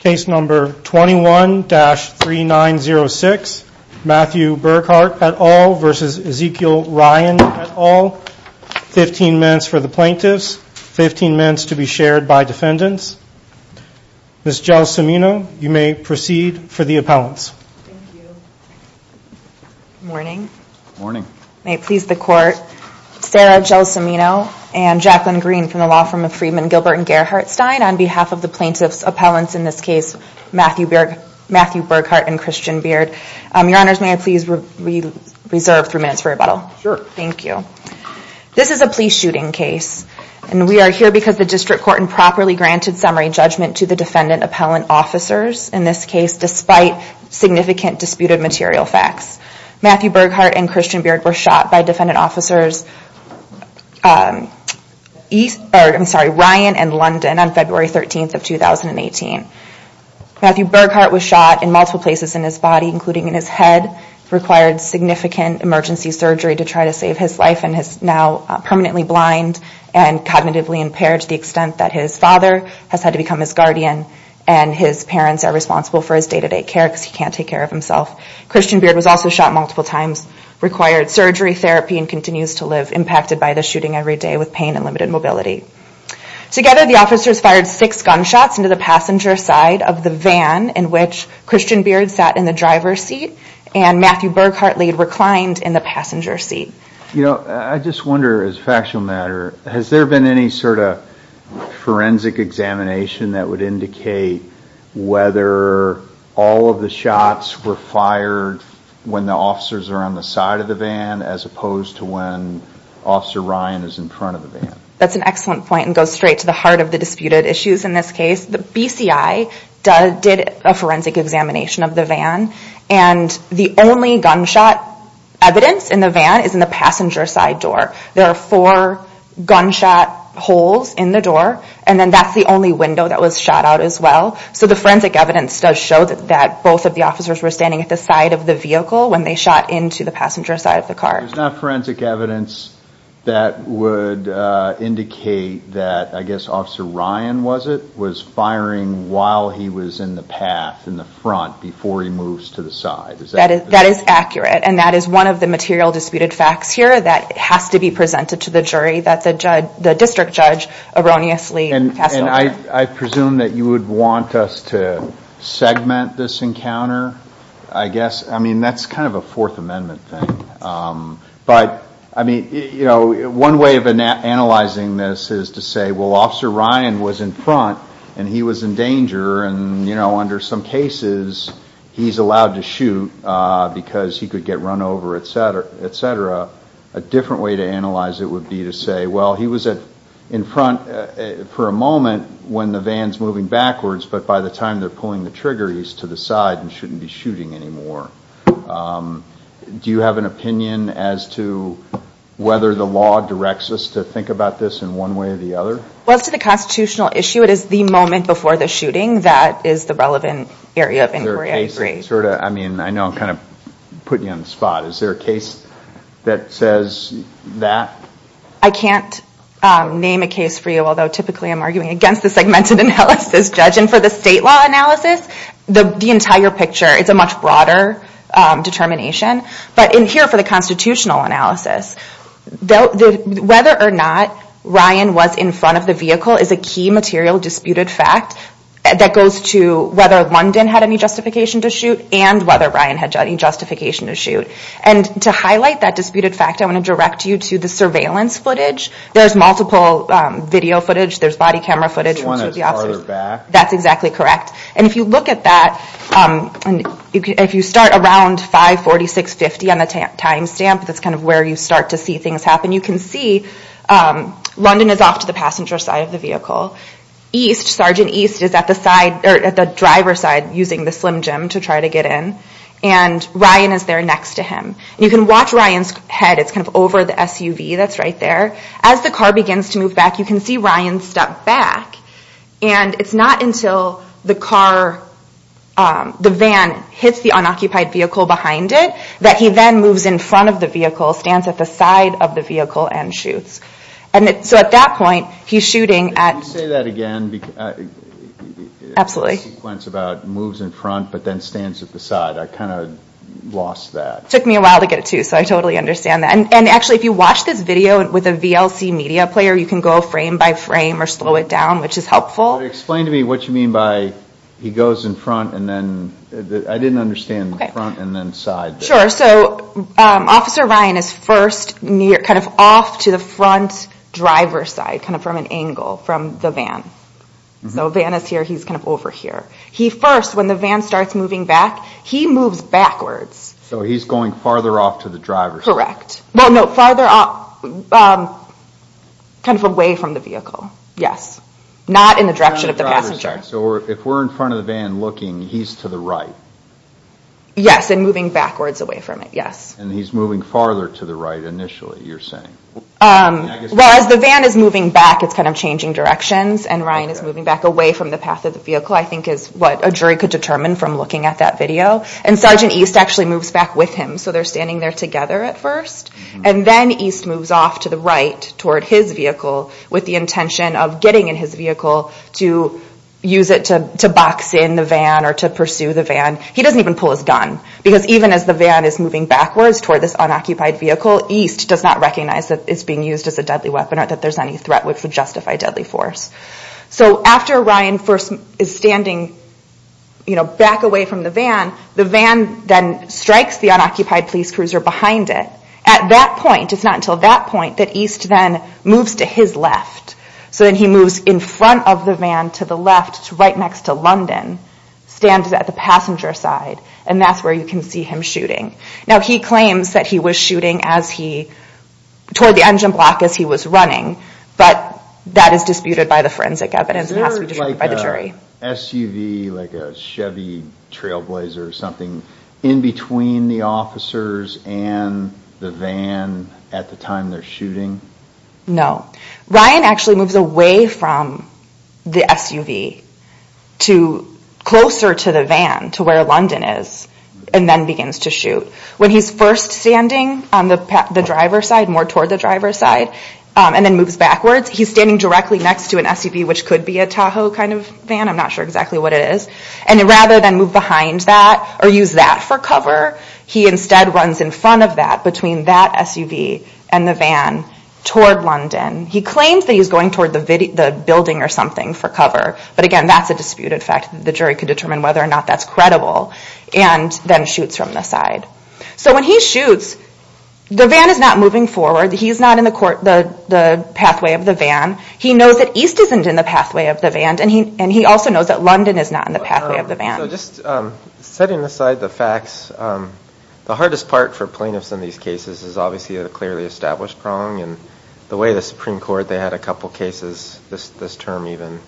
Case number 21-3906, Matthew Burghardt et al. v. Ezekiel Ryan et al. 15 minutes for the plaintiffs, 15 minutes to be shared by defendants. Ms. Gelsimino, you may proceed for the appellants. Thank you. Good morning. Good morning. May it please the Court, Sarah Gelsimino and Jacqueline Green from the Law Firm of Freedmen Gilbert and Gerhardt Stein on behalf of the plaintiffs' appellants, in this case Matthew Burghardt and Christian Beard. Your Honors, may I please reserve three minutes for rebuttal? Sure. Thank you. This is a police shooting case, and we are here because the District Court improperly granted summary judgment to the defendant appellant officers, in this case, despite significant disputed material facts. Matthew Burghardt and Christian Beard were shot by defendant officers Ryan and London on February 13, 2018. Matthew Burghardt was shot in multiple places in his body, including in his head, required significant emergency surgery to try to save his life, and is now permanently blind and cognitively impaired to the extent that his father has had to become his guardian, and his parents are responsible for his day-to-day care because he can't take care of himself. Christian Beard was also shot multiple times, required surgery, therapy, and continues to live, impacted by the shooting every day with pain and limited mobility. Together, the officers fired six gunshots into the passenger side of the van in which Christian Beard sat in the driver's seat and Matthew Burghardt reclined in the passenger seat. You know, I just wonder, as a factual matter, has there been any sort of forensic examination that would indicate whether all of the shots were fired when the officers are on the side of the van as opposed to when Officer Ryan is in front of the van? That's an excellent point and goes straight to the heart of the disputed issues in this case. The BCI did a forensic examination of the van, and the only gunshot evidence in the van is in the passenger side door. There are four gunshot holes in the door, and then that's the only window that was shot out as well. So the forensic evidence does show that both of the officers were standing at the side of the vehicle when they shot into the passenger side of the car. There's not forensic evidence that would indicate that, I guess, Officer Ryan was firing while he was in the path, in the front, before he moves to the side. That is accurate, and that is one of the material disputed facts here that has to be presented to the jury that the district judge erroneously passed over. I presume that you would want us to segment this encounter, I guess? I mean, that's kind of a Fourth Amendment thing. One way of analyzing this is to say, well, Officer Ryan was in front, and he was in danger, and under some cases, he's allowed to shoot because he could get run over, etc. A different way to analyze it would be to say, well, he was in front for a moment when the van's moving backwards, but by the time they're pulling the trigger, he's to the side and shouldn't be shooting anymore. Do you have an opinion as to whether the law directs us to think about this in one way or the other? Well, as to the constitutional issue, it is the moment before the shooting that is the relevant area of inquiry, I agree. I know I'm kind of putting you on the spot. Is there a case that says that? I can't name a case for you, although typically I'm arguing against the segmented analysis. Judging for the state law analysis, the entire picture is a much broader determination. But here for the constitutional analysis, whether or not Ryan was in front of the vehicle is a key material disputed fact. That goes to whether London had any justification to shoot and whether Ryan had any justification to shoot. And to highlight that disputed fact, I want to direct you to the surveillance footage. There's multiple video footage. There's body camera footage. This one is farther back. That's exactly correct. And if you look at that, if you start around 546.50 on the timestamp, that's kind of where you start to see things happen, you can see London is off to the passenger side of the vehicle. Sergeant East is at the driver's side using the Slim Jim to try to get in. And Ryan is there next to him. You can watch Ryan's head. It's kind of over the SUV that's right there. As the car begins to move back, you can see Ryan step back. And it's not until the car, the van hits the unoccupied vehicle behind it, that he then moves in front of the vehicle, stands at the side of the vehicle and shoots. So at that point, he's shooting at... Can you say that again? Absolutely. The sequence about moves in front but then stands at the side. I kind of lost that. It took me a while to get it to, so I totally understand that. And actually, if you watch this video with a VLC media player, you can go frame by frame or slow it down, which is helpful. Explain to me what you mean by he goes in front and then... I didn't understand front and then side. Sure. So Officer Ryan is first off to the front driver's side, kind of from an angle from the van. So van is here, he's kind of over here. He first, when the van starts moving back, he moves backwards. So he's going farther off to the driver's side. Correct. Well, no, farther off, kind of away from the vehicle. Yes. Not in the direction of the passenger. So if we're in front of the van looking, he's to the right. Yes, and moving backwards away from it. Yes. And he's moving farther to the right initially, you're saying. Well, as the van is moving back, it's kind of changing directions. And Ryan is moving back away from the path of the vehicle, I think is what a jury could determine from looking at that video. And Sergeant East actually moves back with him. So they're standing there together at first. And then East moves off to the right toward his vehicle with the intention of getting in his vehicle to use it to box in the van or to pursue the van. He doesn't even pull his gun because even as the van is moving backwards toward this unoccupied vehicle, East does not recognize that it's being used as a deadly weapon or that there's any threat which would justify deadly force. So after Ryan first is standing back away from the van, the van then strikes the unoccupied police cruiser behind it. At that point, it's not until that point that East then moves to his left. So then he moves in front of the van to the left, right next to London, stands at the passenger side, and that's where you can see him shooting. Now, he claims that he was shooting toward the engine block as he was running, but that is disputed by the forensic evidence. It has to be disputed by the jury. Is there like a SUV, like a Chevy Trailblazer or something in between the officers and the van at the time they're shooting? No. Ryan actually moves away from the SUV to closer to the van, to where London is, and then begins to shoot. When he's first standing on the driver's side, more toward the driver's side, and then moves backwards, he's standing directly next to an SUV, which could be a Tahoe kind of van. I'm not sure exactly what it is. And rather than move behind that or use that for cover, he instead runs in front of that, between that SUV and the van, toward London. He claims that he's going toward the building or something for cover, but again, that's a disputed fact. The jury could determine whether or not that's credible, and then shoots from the side. So when he shoots, the van is not moving forward. He's not in the pathway of the van. He knows that East isn't in the pathway of the van, and he also knows that London is not in the pathway of the van. So just setting aside the facts, the hardest part for plaintiffs in these cases is obviously the clearly established prong, and the way the Supreme Court, they had a couple cases, this term even,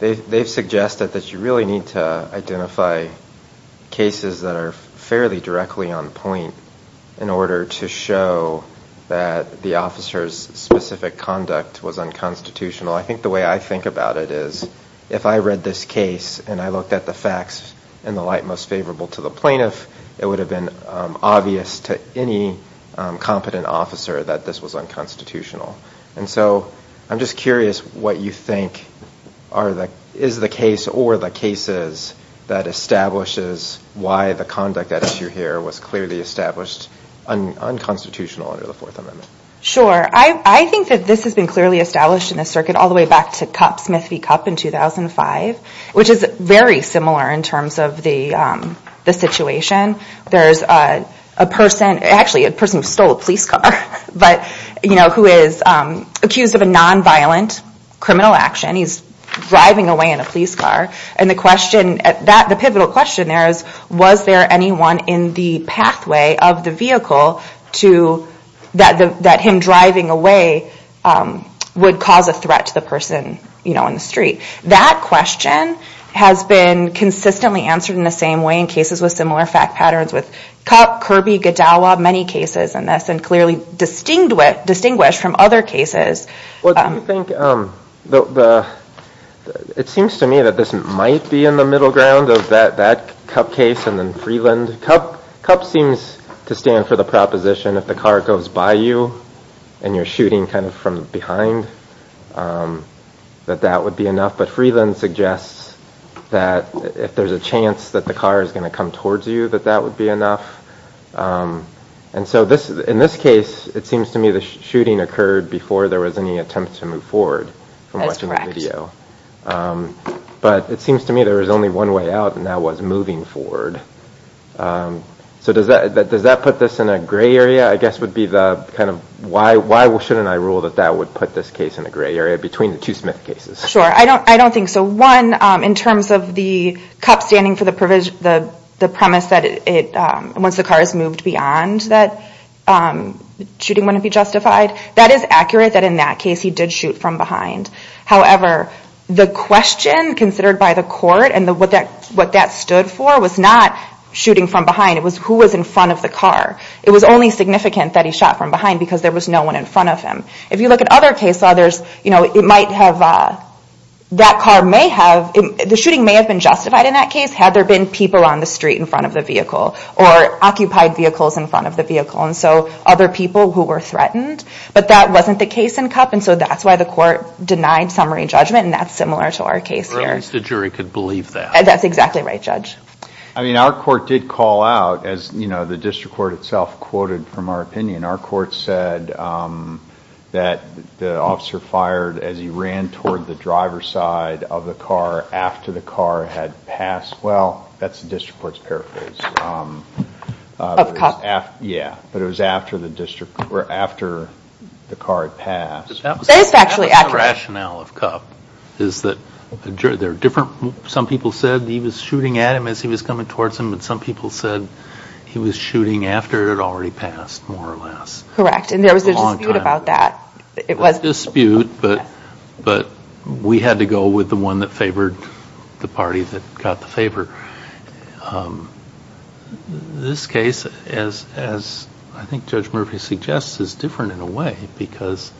they've suggested that you really need to identify cases that are fairly directly on point in order to show that the officer's specific conduct was unconstitutional. I think the way I think about it is, if I read this case and I looked at the facts in the light most favorable to the plaintiff, it would have been obvious to any competent officer that this was unconstitutional. And so I'm just curious what you think is the case or the cases that establishes why the conduct at issue here was clearly established unconstitutional under the Fourth Amendment. Sure. I think that this has been clearly established in the circuit all the way back to Smith v. Cupp in 2005, which is very similar in terms of the situation. There's a person, actually a person who stole a police car, who is accused of a nonviolent criminal action. He's driving away in a police car. And the question, the pivotal question there is, was there anyone in the pathway of the vehicle that him driving away would cause a threat to the person in the street? That question has been consistently answered in the same way in cases with similar fact patterns with Cupp, Kirby, Gadawa, many cases in this, and clearly distinguished from other cases. It seems to me that this might be in the middle ground of that Cupp case and then Freeland. Cupp seems to stand for the proposition if the car goes by you and you're shooting kind of from behind, that that would be enough. But Freeland suggests that if there's a chance that the car is going to come towards you, that that would be enough. And so in this case, it seems to me the shooting occurred before there was any attempt to move forward from watching the video. But it seems to me there was only one way out, and that was moving forward. So does that put this in a gray area? I guess would be the kind of why shouldn't I rule that that would put this case in a gray area between the two Smith cases? Sure, I don't think so. One, in terms of the Cupp standing for the premise that once the car is moved beyond, that shooting wouldn't be justified, that is accurate that in that case he did shoot from behind. However, the question considered by the court and what that stood for was not shooting from behind. It was who was in front of the car. It was only significant that he shot from behind because there was no one in front of him. If you look at other case law, it might have, that car may have, the shooting may have been justified in that case had there been people on the street in front of the vehicle or occupied vehicles in front of the vehicle, and so other people who were threatened. But that wasn't the case in Cupp, and so that's why the court denied summary judgment, and that's similar to our case here. Or at least the jury could believe that. That's exactly right, Judge. I mean our court did call out, as the district court itself quoted from our opinion, our court said that the officer fired as he ran toward the driver's side of the car after the car had passed. Well, that's the district court's paraphrase. Of Cupp. Yeah, but it was after the car had passed. That is actually accurate. That was the rationale of Cupp, is that there are different, some people said he was shooting at him as he was coming towards him, and some people said he was shooting after it had already passed, more or less. Correct, and there was a dispute about that. It was a dispute, but we had to go with the one that favored the party that got the favor. This case, as I think Judge Murphy suggests, is different in a way because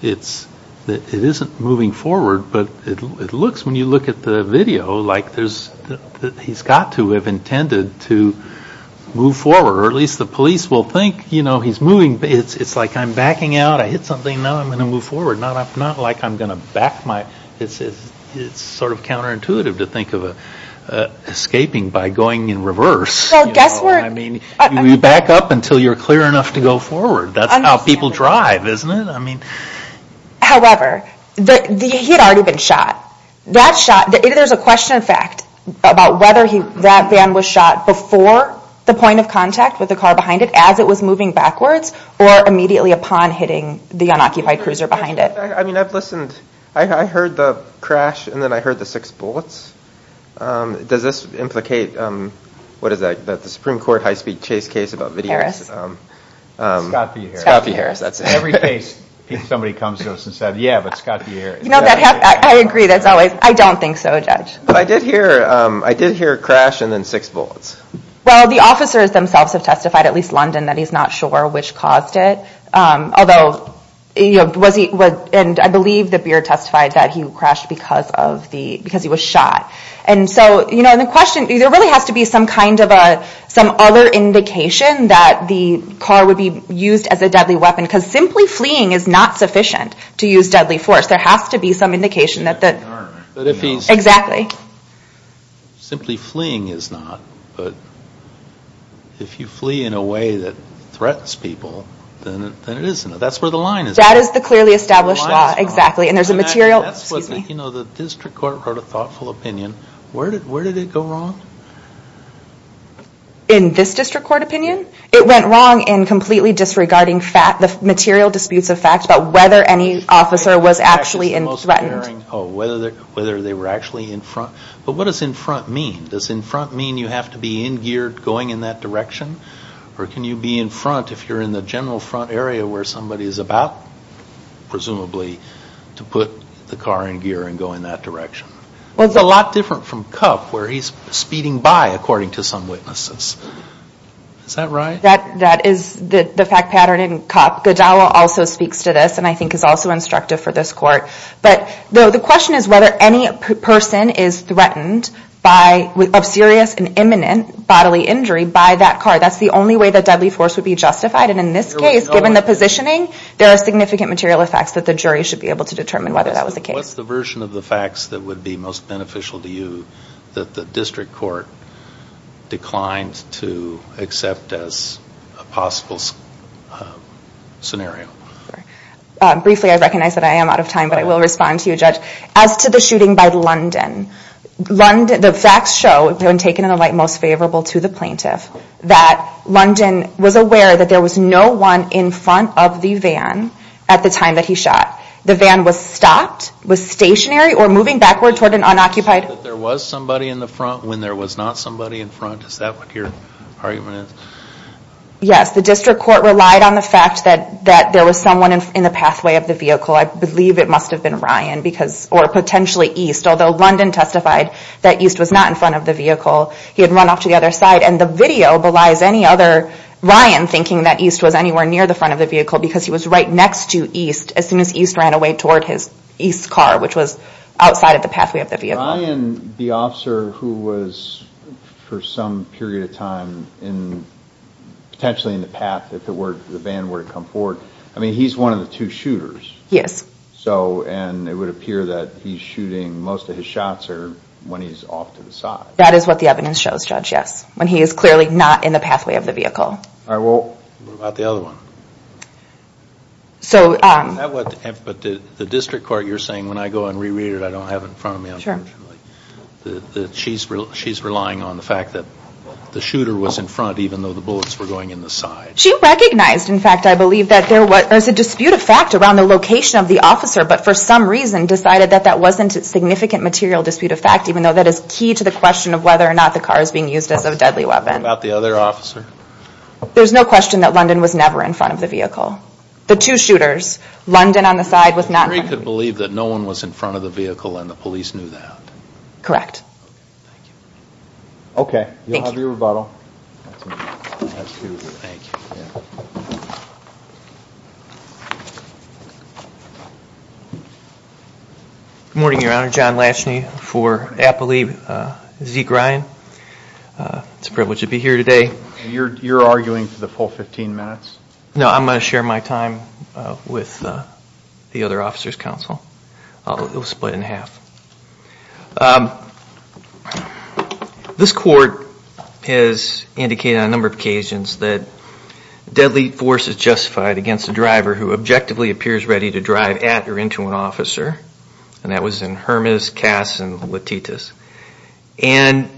it isn't moving forward, but it looks, when you look at the video, like he's got to have intended to move forward, or at least the police will think he's moving. It's like I'm backing out, I hit something, now I'm going to move forward. Not like I'm going to back my, it's sort of counterintuitive to think of escaping by going in reverse. I mean, you back up until you're clear enough to go forward. That's how people drive, isn't it? However, he had already been shot. That shot, there's a question of fact about whether that van was shot before the point of contact with the car behind it, as it was moving backwards, or immediately upon hitting the unoccupied cruiser behind it. I mean, I've listened, I heard the crash, and then I heard the six bullets. Does this implicate, what is that, the Supreme Court high-speed chase case about videos? Harris. Scott P. Harris. Scott P. Harris, that's it. Every case, somebody comes to us and says, yeah, but Scott P. Harris. No, I agree, that's always, I don't think so, Judge. But I did hear a crash, and then six bullets. Well, the officers themselves have testified, at least London, that he's not sure which caused it. Although, was he, and I believe that Beard testified that he crashed because he was shot. And so, you know, the question, there really has to be some kind of a, some other indication that the car would be used as a deadly weapon, because simply fleeing is not sufficient to use deadly force. There has to be some indication that the, exactly. But if he's, simply fleeing is not, but if you flee in a way that threatens people, then it isn't. That's where the line is. That is the clearly established law, exactly, and there's a material, excuse me. You know, the district court wrote a thoughtful opinion. Where did it go wrong? In this district court opinion? It went wrong in completely disregarding the material disputes of facts, but whether any officer was actually threatened. Oh, whether they were actually in front. But what does in front mean? Does in front mean you have to be in gear going in that direction? Or can you be in front if you're in the general front area where somebody is about, presumably, to put the car in gear and go in that direction? Well, it's a lot different from CUP, where he's speeding by, according to some witnesses. Is that right? That is the fact pattern in CUP. Godowa also speaks to this, and I think is also instructive for this court. But the question is whether any person is threatened by, of serious and imminent bodily injury by that car. That's the only way that deadly force would be justified, and in this case, given the positioning, there are significant material effects that the jury should be able to determine whether that was the case. What's the version of the facts that would be most beneficial to you that the district court declined to accept as a possible scenario? Briefly, I recognize that I am out of time, but I will respond to you, Judge. As to the shooting by London, the facts show, when taken in the light most favorable to the plaintiff, that London was aware that there was no one in front of the van at the time that he shot. The van was stopped, was stationary, or moving backward toward an unoccupied... You said that there was somebody in the front when there was not somebody in front. Is that what your argument is? Yes, the district court relied on the fact that there was someone in the pathway of the vehicle. I believe it must have been Ryan, or potentially East, although London testified that East was not in front of the vehicle. He had run off to the other side, and the video belies any other... Ryan thinking that East was anywhere near the front of the vehicle because he was right next to East as soon as East ran away toward his East car, which was outside of the pathway of the vehicle. Ryan, the officer who was, for some period of time, potentially in the path that the van were to come forward, I mean, he's one of the two shooters. Yes. And it would appear that he's shooting, most of his shots are when he's off to the side. That is what the evidence shows, Judge, yes. When he is clearly not in the pathway of the vehicle. What about the other one? So... But the district court, you're saying, when I go and re-read it, I don't have it in front of me, unfortunately. She's relying on the fact that the shooter was in front, even though the bullets were going in the side. She recognized, in fact, I believe, that there was a dispute of fact around the location of the officer, but for some reason decided that that wasn't a significant material dispute of fact, even though that is key to the question of whether or not the car is being used as a deadly weapon. What about the other officer? There's no question that London was never in front of the vehicle. The two shooters, London on the side was not in front of the vehicle. Mary could believe that no one was in front of the vehicle and the police knew that. Correct. Okay. Thank you. You'll have your rebuttal. Thank you. Good morning, Your Honor. John Latchney for Appalachian Zeke Ryan. It's a privilege to be here today. You're arguing for the full 15 minutes? No, I'm going to share my time with the other officers' counsel. It will split in half. This court has indicated on a number of occasions that deadly force is justified against a driver who objectively appears ready to drive at or into an officer, and that was in Hermas, Cass, and Latitas. And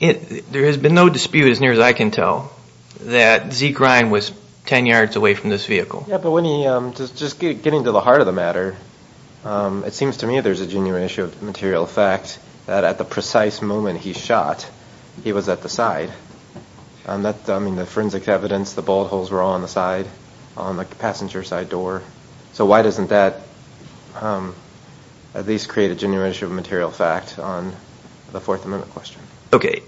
there has been no dispute, as near as I can tell, that Zeke Ryan was 10 yards away from this vehicle. Yeah, but when he, just getting to the heart of the matter, it seems to me there's a genuine issue of material fact that at the precise moment he shot, he was at the side. I mean, the forensic evidence, the bullet holes were on the side, on the passenger side door. So why doesn't that at least create a genuine issue of material fact on the Fourth Amendment question? Okay.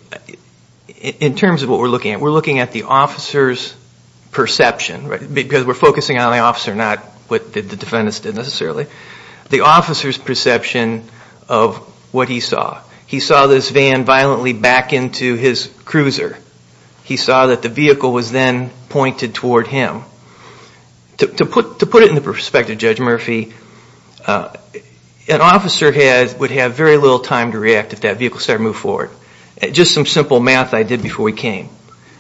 In terms of what we're looking at, we're looking at the officer's perception. Because we're focusing on the officer, not what the defendants did necessarily. The officer's perception of what he saw. He saw this van violently back into his cruiser. He saw that the vehicle was then pointed toward him. To put it into perspective, Judge Murphy, an officer would have very little time to react if that vehicle started to move forward. Just some simple math I did before we came.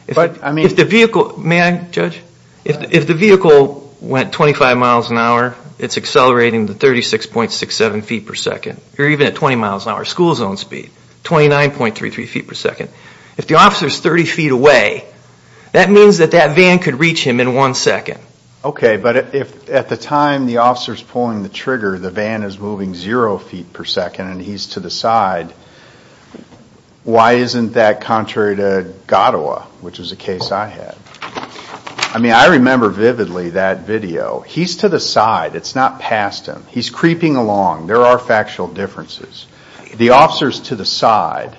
If the vehicle, may I, Judge? If the vehicle went 25 miles an hour, it's accelerating to 36.67 feet per second. Or even at 20 miles an hour school zone speed, 29.33 feet per second. If the officer's 30 feet away, that means that that van could reach him in one second. Okay, but if at the time the officer's pulling the trigger, the van is moving zero feet per second and he's to the side, why isn't that contrary to Godowa, which is a case I had? I mean, I remember vividly that video. He's to the side. It's not past him. He's creeping along. There are factual differences. The officer's to the side.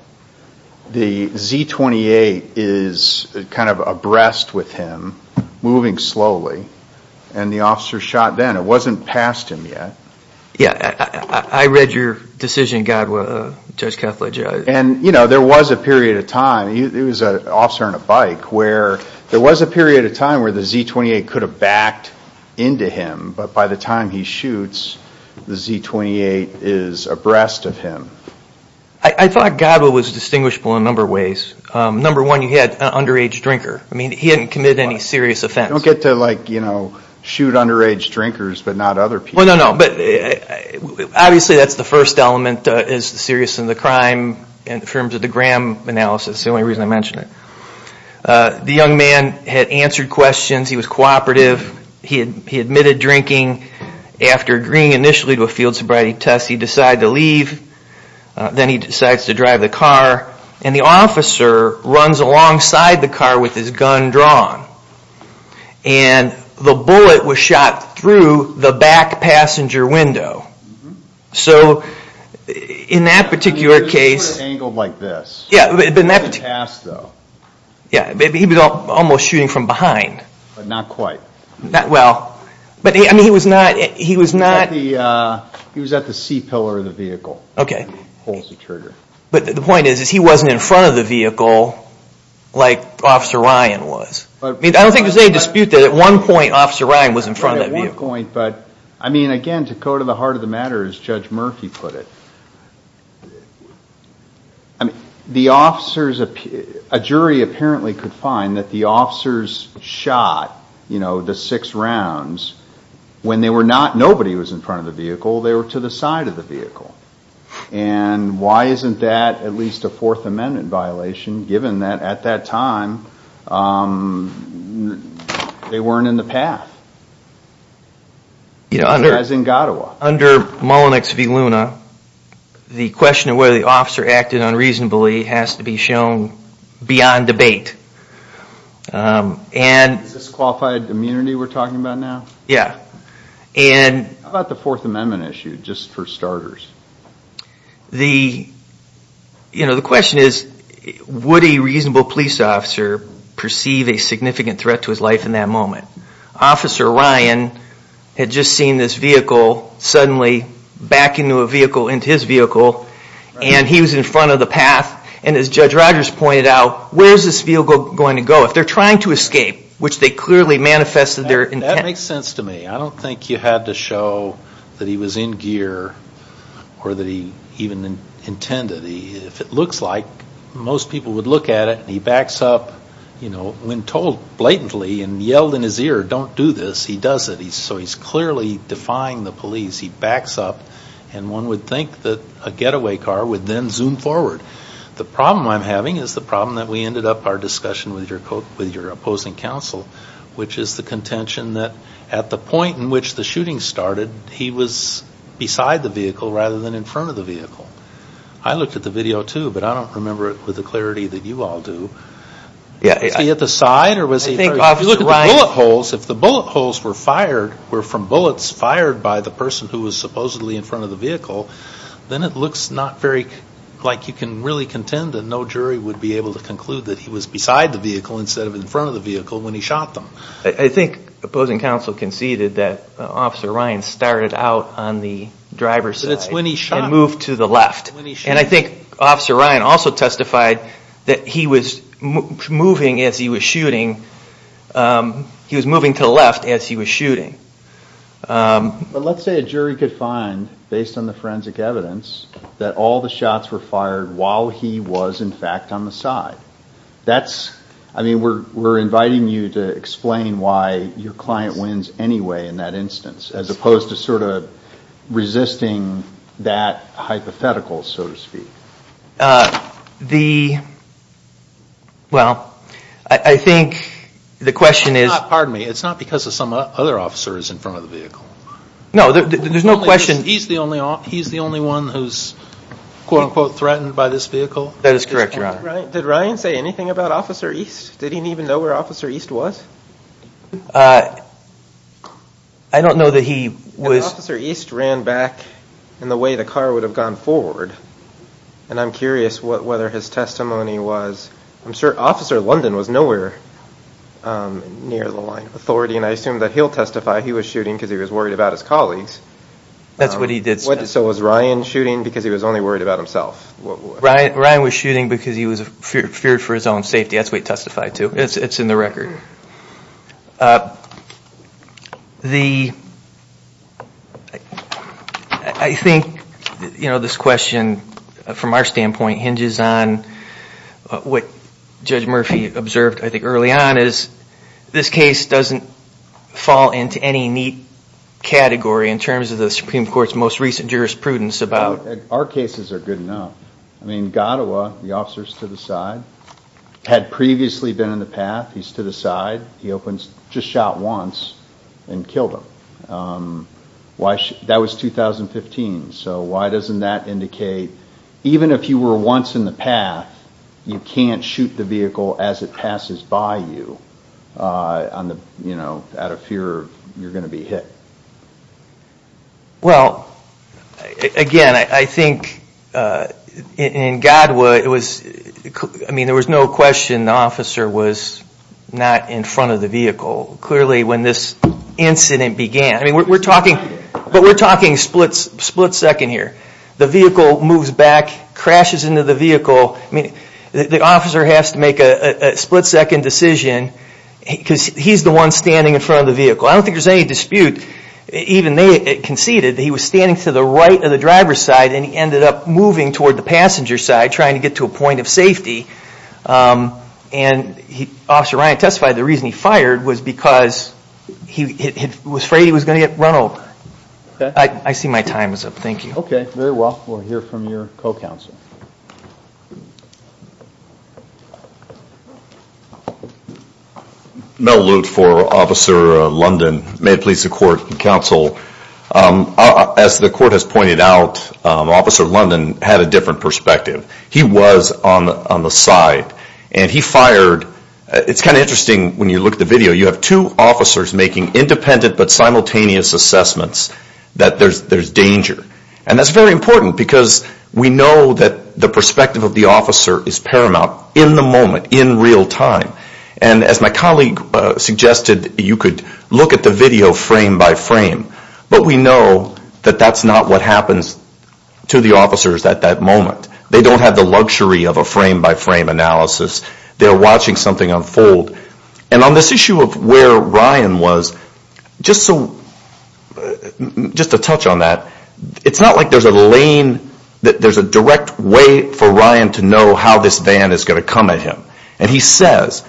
The Z-28 is kind of abreast with him, moving slowly. And the officer shot then. It wasn't past him yet. I read your decision, Godowa, Judge Kethledge. And there was a period of time. He was an officer on a bike. There was a period of time where the Z-28 could have backed into him, but by the time he shoots, the Z-28 is abreast of him. I thought Godowa was distinguishable in a number of ways. Number one, he had an underage drinker. He hadn't committed any serious offense. You don't get to shoot underage drinkers, but not other people. Well, no, no, but obviously that's the first element is serious in the crime in terms of the Graham analysis. It's the only reason I mention it. The young man had answered questions. He was cooperative. He admitted drinking. After agreeing initially to a field sobriety test, he decided to leave. Then he decides to drive the car, and the officer runs alongside the car with his gun drawn. And the bullet was shot through the back passenger window. So in that particular case... It was sort of angled like this. Yeah, but in that particular... It was in the past, though. Yeah, he was almost shooting from behind. But not quite. Well, I mean, he was not... He was at the C-pillar of the vehicle. Okay. Holes to trigger. But the point is he wasn't in front of the vehicle like Officer Ryan was. I don't think there's any dispute that at one point Officer Ryan was in front of that vehicle. Yeah, at one point. But, I mean, again, to go to the heart of the matter, as Judge Murphy put it, the officers... A jury apparently could find that the officers shot the six rounds when nobody was in front of the vehicle. They were to the side of the vehicle. And why isn't that at least a Fourth Amendment violation given that at that time they weren't in the path? As in Gottawa. Under Mullinex v. Luna, the question of whether the officer acted unreasonably has to be shown beyond debate. Is this qualified immunity we're talking about now? Yeah. How about the Fourth Amendment issue, just for starters? The question is would a reasonable police officer perceive a significant threat to his life in that moment? Officer Ryan had just seen this vehicle suddenly back into his vehicle and he was in front of the path. And as Judge Rogers pointed out, where is this vehicle going to go? If they're trying to escape, which they clearly manifested their intent... That makes sense to me. I don't think you had to show that he was in gear or that he even intended. If it looks like, most people would look at it and he backs up when told blatantly and yelled in his ear, don't do this, he does it. So he's clearly defying the police. He backs up and one would think that a getaway car would then zoom forward. The problem I'm having is the problem that we ended up our discussion with your opposing counsel, which is the contention that at the point in which the shooting started, he was beside the vehicle rather than in front of the vehicle. I looked at the video too, but I don't remember it with the clarity that you all do. Was he at the side or was he... If you look at the bullet holes, if the bullet holes were from bullets fired by the person who was supposedly in front of the vehicle, then it looks like you can really contend that no jury would be able to conclude that he was beside the vehicle instead of in front of the vehicle when he shot them. I think opposing counsel conceded that Officer Ryan started out on the driver's side and moved to the left. And I think Officer Ryan also testified that he was moving as he was shooting. He was moving to the left as he was shooting. But let's say a jury could find, based on the forensic evidence, that all the shots were fired while he was in fact on the side. I mean, we're inviting you to explain why your client wins anyway in that instance as opposed to sort of resisting that hypothetical, so to speak. Well, I think the question is... Pardon me, it's not because of some other officers in front of the vehicle. No, there's no question. He's the only one who's quote-unquote threatened by this vehicle? That is correct, Your Honor. Did Ryan say anything about Officer East? Did he even know where Officer East was? I don't know that he was... Officer East ran back in the way the car would have gone forward. And I'm curious whether his testimony was... I'm sure Officer London was nowhere near the line of authority, and I assume that he'll testify he was shooting because he was worried about his colleagues. That's what he did. So was Ryan shooting because he was only worried about himself? Ryan was shooting because he feared for his own safety. That's what he testified to. It's in the record. I think this question, from our standpoint, hinges on what Judge Murphy observed, I think, early on is this case doesn't fall into any neat category in terms of the Supreme Court's most recent jurisprudence about... Our cases are good enough. I mean, Gattawa, the officer stood aside, had previously been in the path. He stood aside. He just shot once and killed him. That was 2015, so why doesn't that indicate, even if you were once in the path, you can't shoot the vehicle as it passes by you out of fear you're going to be hit? Well, again, I think in Gattawa it was... I mean, there was no question the officer was not in front of the vehicle. Clearly, when this incident began... I mean, we're talking split-second here. The vehicle moves back, crashes into the vehicle. I mean, the officer has to make a split-second decision because he's the one standing in front of the vehicle. I don't think there's any dispute, even they conceded that he was standing to the right of the driver's side and he ended up moving toward the passenger side, trying to get to a point of safety. And Officer Ryan testified the reason he fired was because he was afraid he was going to get run over. I see my time is up. Thank you. Okay. Very well. We'll hear from your co-counsel. Mel Lute for Officer London. May it please the Court and Counsel. As the Court has pointed out, Officer London had a different perspective. He was on the side, and he fired... It's kind of interesting when you look at the video. You have two officers making independent but simultaneous assessments that there's danger. And that's very important because we know that there's danger and we know that the perspective of the officer is paramount in the moment, in real time. And as my colleague suggested, you could look at the video frame by frame, but we know that that's not what happens to the officers at that moment. They don't have the luxury of a frame-by-frame analysis. They're watching something unfold. And on this issue of where Ryan was, just to touch on that, it's not like there's a lane, there's a direct way for Ryan to know how this van is going to come at him. And he says,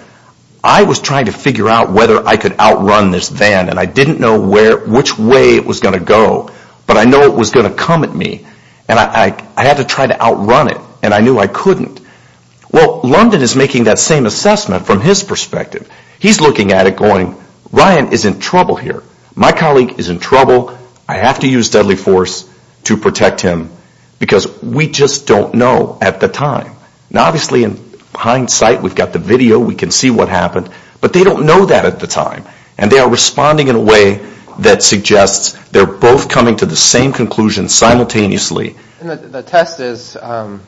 I was trying to figure out whether I could outrun this van, and I didn't know which way it was going to go, but I know it was going to come at me. And I had to try to outrun it, and I knew I couldn't. Well, London is making that same assessment from his perspective. He's looking at it going, Ryan is in trouble here. My colleague is in trouble. I have to use deadly force to protect him, because we just don't know at the time. Now, obviously, in hindsight, we've got the video, we can see what happened, but they don't know that at the time. And they are responding in a way that suggests they're both coming to the same conclusion simultaneously. The test is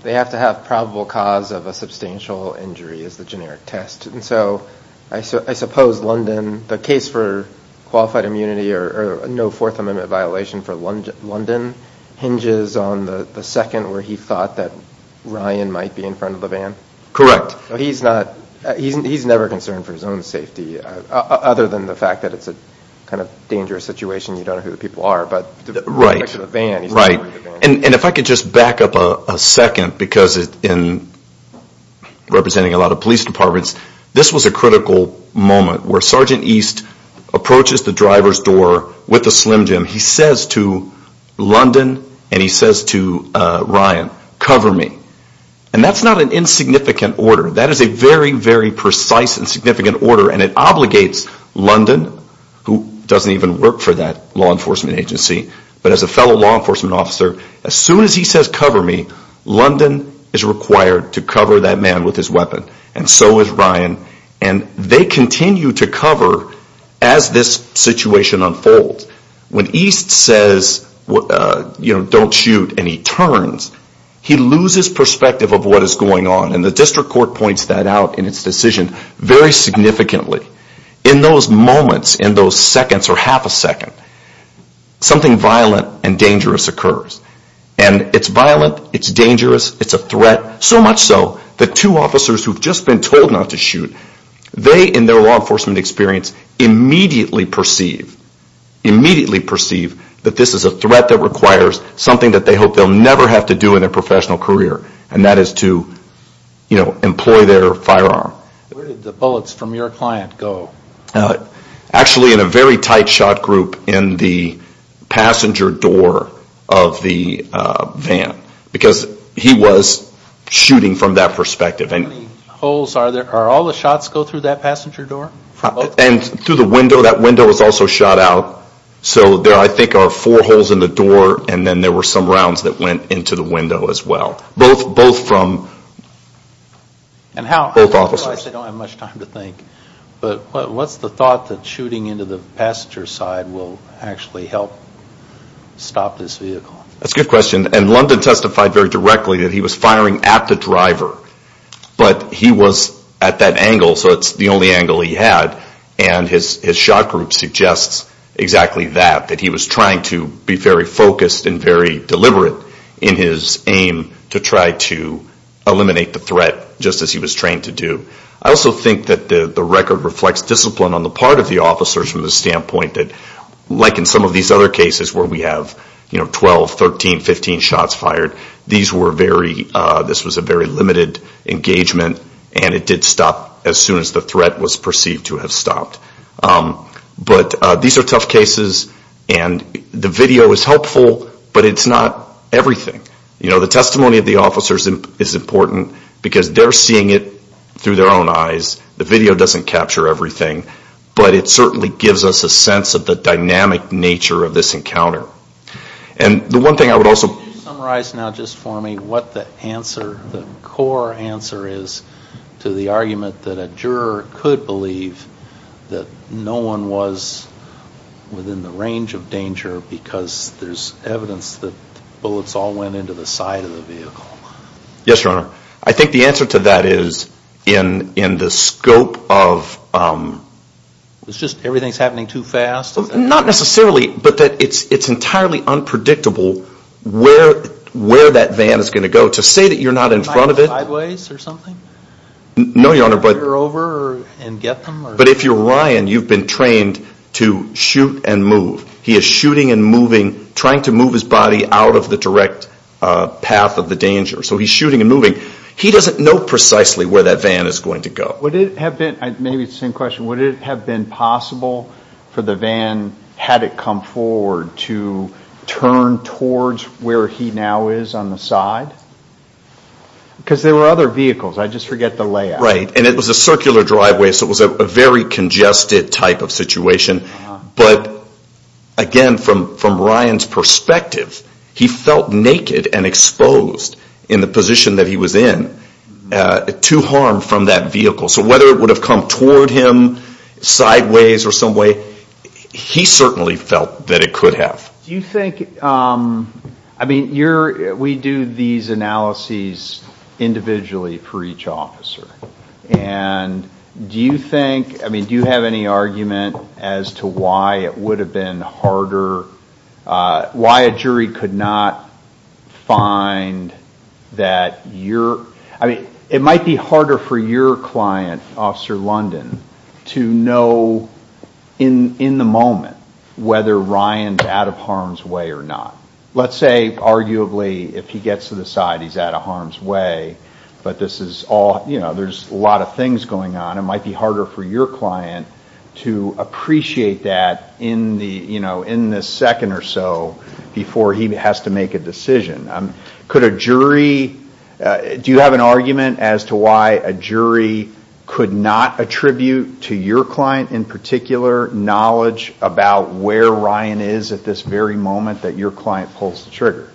they have to have probable cause of a substantial injury, is the generic test. So I suppose London, the case for qualified immunity or no Fourth Amendment violation for London hinges on the second where he thought that Ryan might be in front of the van? Correct. He's never concerned for his own safety, other than the fact that it's a kind of dangerous situation, you don't know who the people are. And if I could just back up a second, because in representing a lot of police departments, this was a critical moment where Sergeant East approaches the driver's door with a Slim Jim. He says to London and he says to Ryan, cover me. And that's not an insignificant order. That is a very, very precise and significant order and it obligates London, who doesn't even work for that law enforcement agency, but as a fellow law enforcement officer, as soon as he says cover me, London is required to cover that man with his weapon. And so is Ryan. And they continue to cover as this situation unfolds. When East says don't shoot and he turns, he loses perspective of what is going on. And the district court points that out in its decision very significantly. In those moments, in those seconds or half a second, something violent and dangerous occurs. And it's violent, it's dangerous, it's a threat, so much so that two officers who've just been told not to shoot, they in their law enforcement experience immediately perceive that this is a threat that requires something that they hope they'll never have to do in their professional career. And that is to employ their firearm. Where did the bullets from your client go? Actually in a very tight shot group in the passenger door of the van. Because he was shooting from that perspective. How many holes, are all the shots go through that passenger door? And through the window, that window was also shot out, so there I think are four holes in the door and then there were some rounds that went into the window as well. Both from both officers. I realize I don't have much time to think, but what's the thought that shooting into the passenger side will actually help stop this vehicle? That's a good question. And London testified very directly that he was firing at the driver. But he was at that angle, so it's the only angle he had. And his shot group suggests exactly that, that he was trying to be very focused and very deliberate in his aim to try to eliminate the threat, just as he was trained to do. I also think that the record reflects discipline on the part of the officers from the standpoint that, like in some of these other cases where we have 12, 13, 15 shots fired, this was a very limited engagement and it did stop as soon as the threat was perceived to have stopped. But these are tough cases and the video is helpful, but it's not everything. The testimony of the officers is important because they're seeing it through their own eyes. The video doesn't capture everything, but it certainly gives us a sense of the dynamic nature of this encounter. And the one thing I would also... Can you summarize now just for me what the answer, the core answer is to the argument that a juror could believe that no one was within the range of danger because there's evidence that bullets all went into the side of the vehicle? Yes, Your Honor. I think the answer to that is in the scope of... It's just everything's happening too fast? Not necessarily, but it's entirely unpredictable where that van is going to go. To say that you're not in front of it... No, Your Honor, but... But if you're Ryan, you've been trained to shoot and move. He is shooting and moving, trying to move his body out of the direct path of the danger. So he's shooting and moving. He doesn't know precisely where that van is going to go. Would it have been possible for the van, had it come forward, to turn towards where he now is on the side? Because there were other vehicles. I just forget the layout. Right. And it was a circular driveway, so it was a very congested type of situation. But again, from Ryan's perspective, he felt naked and exposed in the position that he was in to harm from that vehicle. So whether it would have come toward him, sideways or some way, he certainly felt that it could have. Do you think... We do these analyses individually for each officer. And do you think... Do you have any argument as to why it would have been harder... Why a jury could not find that your... It might be harder for your client, Officer London, to know in the moment whether Ryan's out of harm's way or not. Let's say, arguably, if he gets to the side, he's out of harm's way. There's a lot of things going on. It might be harder for your client to appreciate that in the second or so before he has to make a decision. Do you have an argument as to why a jury could not attribute to your client in particular, knowledge about where Ryan is at this very moment that your client pulls the trigger?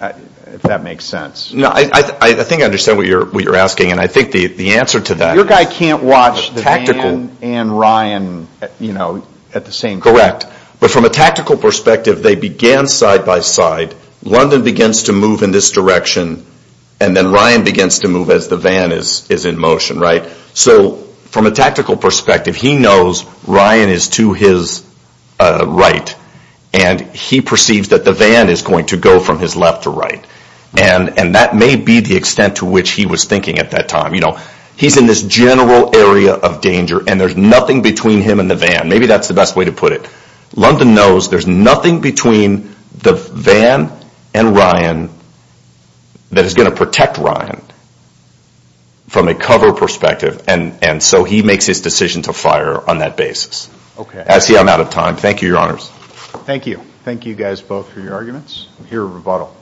If that makes sense. I think I understand what you're asking. Your guy can't watch the van and Ryan at the same time. Correct. But from a tactical perspective, they began side by side. London begins to move in this direction. And then Ryan begins to move as the van is in motion. So from a tactical perspective, he knows Ryan is to his right and he perceives that the van is going to go from his left to right. And that may be the extent to which he was thinking at that time. He's in this general area of danger and there's nothing between him and the van. Maybe that's the best way to put it. London knows there's nothing between the van and Ryan that is going to protect Ryan. From a cover perspective. And so he makes his decision to fire on that basis. I see I'm out of time. Thank you, Your Honors. Thank you. Thank you guys both for your arguments. We'll hear a rebuttal.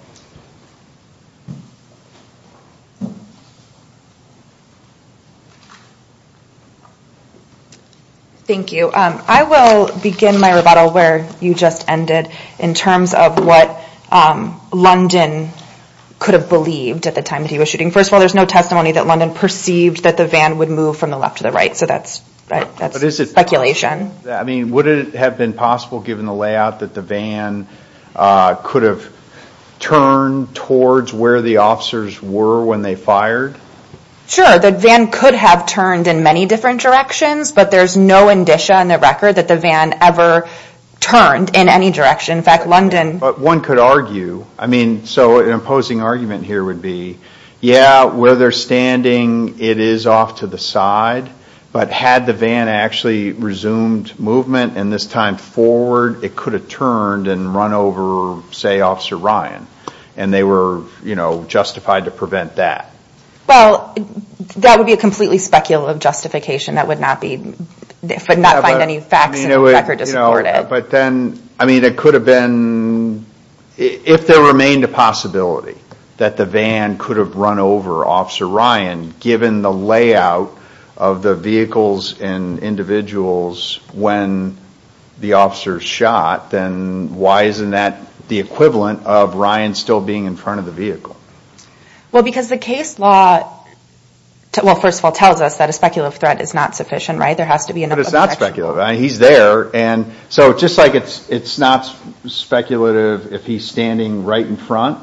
Thank you. I will begin my rebuttal where you just ended in terms of what London could have believed at the time that he was shooting. First of all, there's no testimony that London perceived that the van would move from the left to the right. So that's speculation. Would it have been possible, given the layout, that the van could have turned towards where the officers were when they fired? Sure, the van could have turned in many different directions but there's no indicia on the record that the van ever turned in any direction. But one could argue, so an imposing argument here would be, yeah, where they're standing it is off to the side but had the van actually resumed movement and this time forward it could have turned and run over, say, Officer Ryan. And they were justified to prevent that. Well, that would be a completely speculative justification. That would not find any facts in the record to support it. But then, I mean, it could have been, if there remained a possibility that the van could have run over Officer Ryan, given the layout of the vehicles and individuals when the officers shot, then why isn't that the equivalent of Ryan still being in front of the vehicle? Well, because the case law, well, first of all, tells us that a speculative threat is not sufficient, right? But it's not speculative. He's there. So just like it's not speculative if he's standing right in front,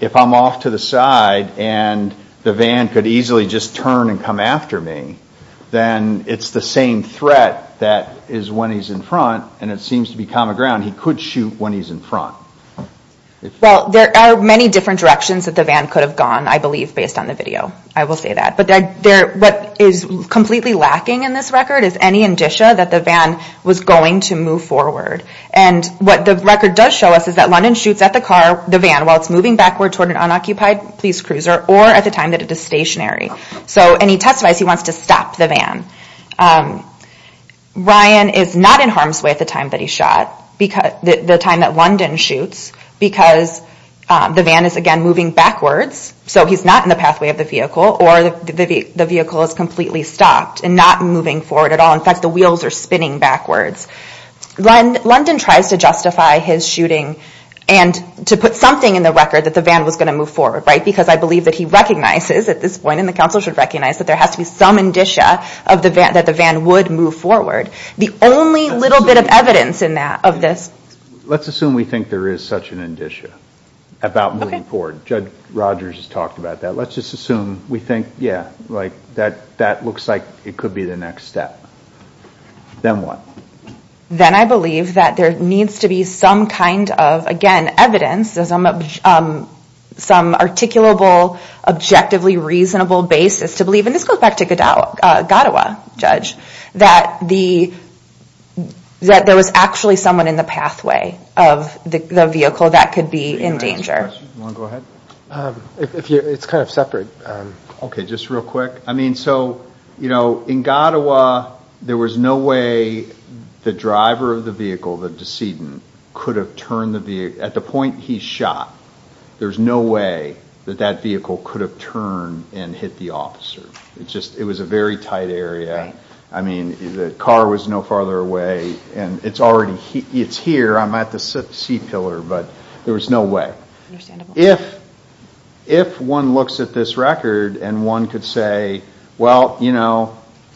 if I'm off to the side and the van could easily just turn and come after me, then it's the same threat that is when he's in front and it seems to be common ground. He could shoot when he's in front. Well, there are many different directions that the van could have gone, I believe, based on the video. I will say that. But what is completely lacking in this record is any indicia that the van was going to move forward. And what the record does show us is that London shoots at the van while it's moving backward toward an unoccupied police cruiser or at the time that it is stationary. And he testifies he wants to stop the van. Ryan is not in harm's way at the time that he shot, the time that London shoots, because the van is, again, moving backwards. So he's not in the pathway of the vehicle or the vehicle is completely stopped and not moving forward at all. In fact, the wheels are spinning backwards. London tries to justify his shooting and to put something in the record that the van was going to move forward because I believe that he recognizes at this point, and the Council should recognize, that there has to be some indicia that the van would move forward. The only little bit of evidence in that of this... Let's assume we think there is such an indicia about moving forward. Judge Rogers has talked about that. Let's just assume we think, yeah, that looks like it could be the next step. Then what? Then I believe that there needs to be some kind of, again, evidence, some articulable, objectively reasonable basis to believe, and this goes back to Gaddawa, Judge, that there was actually someone in the pathway of the vehicle that could be in danger. Do you want to go ahead? It's kind of separate. Okay, just real quick. In Gaddawa, there was no way the driver of the vehicle, the decedent, could have turned the vehicle. At the point he shot, there's no way that that vehicle could have turned and hit the officer. It was a very tight area. The car was no farther away. It's here. I'm at the C pillar, but there was no way. If one looks at this record and one could say, well,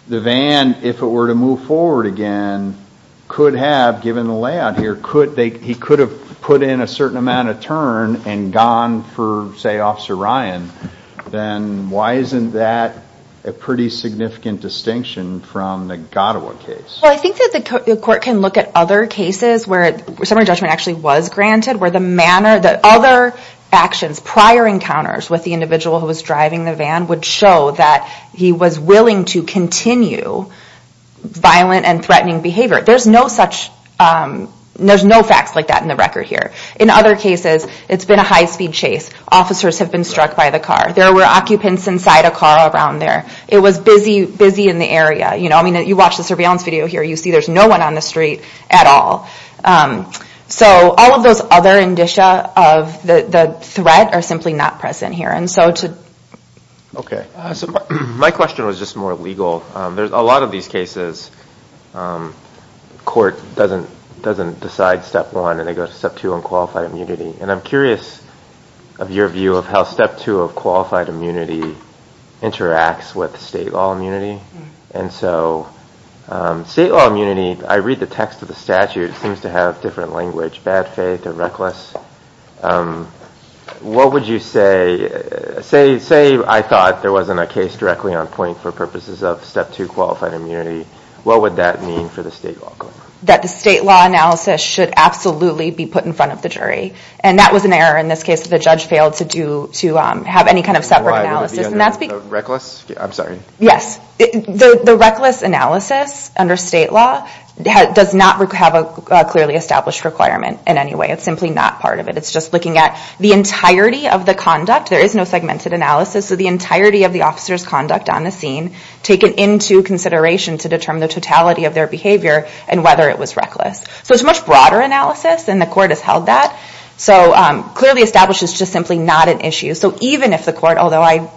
the van, if it were to move forward again, could have, given the layout here, he could have put in a certain amount of turn and gone for, say, Officer Ryan, then why isn't that a pretty significant distinction from the Gaddawa case? Well, I think that the court can look at other cases where summary judgment actually was granted, where the other actions, prior encounters with the individual who was driving the van would show that he was willing to continue violent and threatening behavior. There's no facts like that in the record here. In other cases, it's been a high-speed chase. Officers have been struck by the car. There were occupants inside a car around there. It was busy in the area. You watch the surveillance video here. You see there's no one on the street at all. So all of those other indicia of the threat are simply not present here. My question was just more legal. A lot of these cases, court doesn't decide step one and then they go to step two on qualified immunity. I'm curious of your view of how step two of qualified immunity interacts with state law immunity. State law immunity, I read the text of the statute, seems to have different language, bad faith or reckless. What would you say? Say I thought there wasn't a case directly on point for purposes of step two qualified immunity. What would that mean for the state law? That the state law analysis should absolutely be put in front of the jury. That was an error in this case. The judge failed to have any kind of separate analysis. Reckless? I'm sorry. The reckless analysis under state law does not have a clearly established requirement in any way. It's simply not part of it. It's just looking at the entirety of the conduct. There is no segmented analysis. The entirety of the officer's conduct on the scene taken into consideration to determine the totality of their behavior and whether it was reckless. It's a much broader analysis and the court has held that. Clearly established is just simply not an issue. Even if the court, although I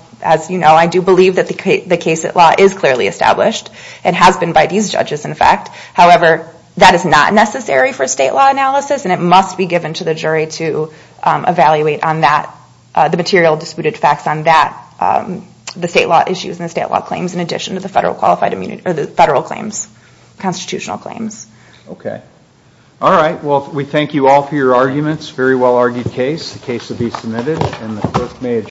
do believe that the case at law is clearly established and has been by these judges in fact. However, that is not necessary for state law analysis and it must be given to the jury to evaluate on that. The material disputed facts on that. The state law issues and the state law claims in addition to the federal claims. Constitutional claims. We thank you all for your arguments. Very well argued case. The case will be submitted.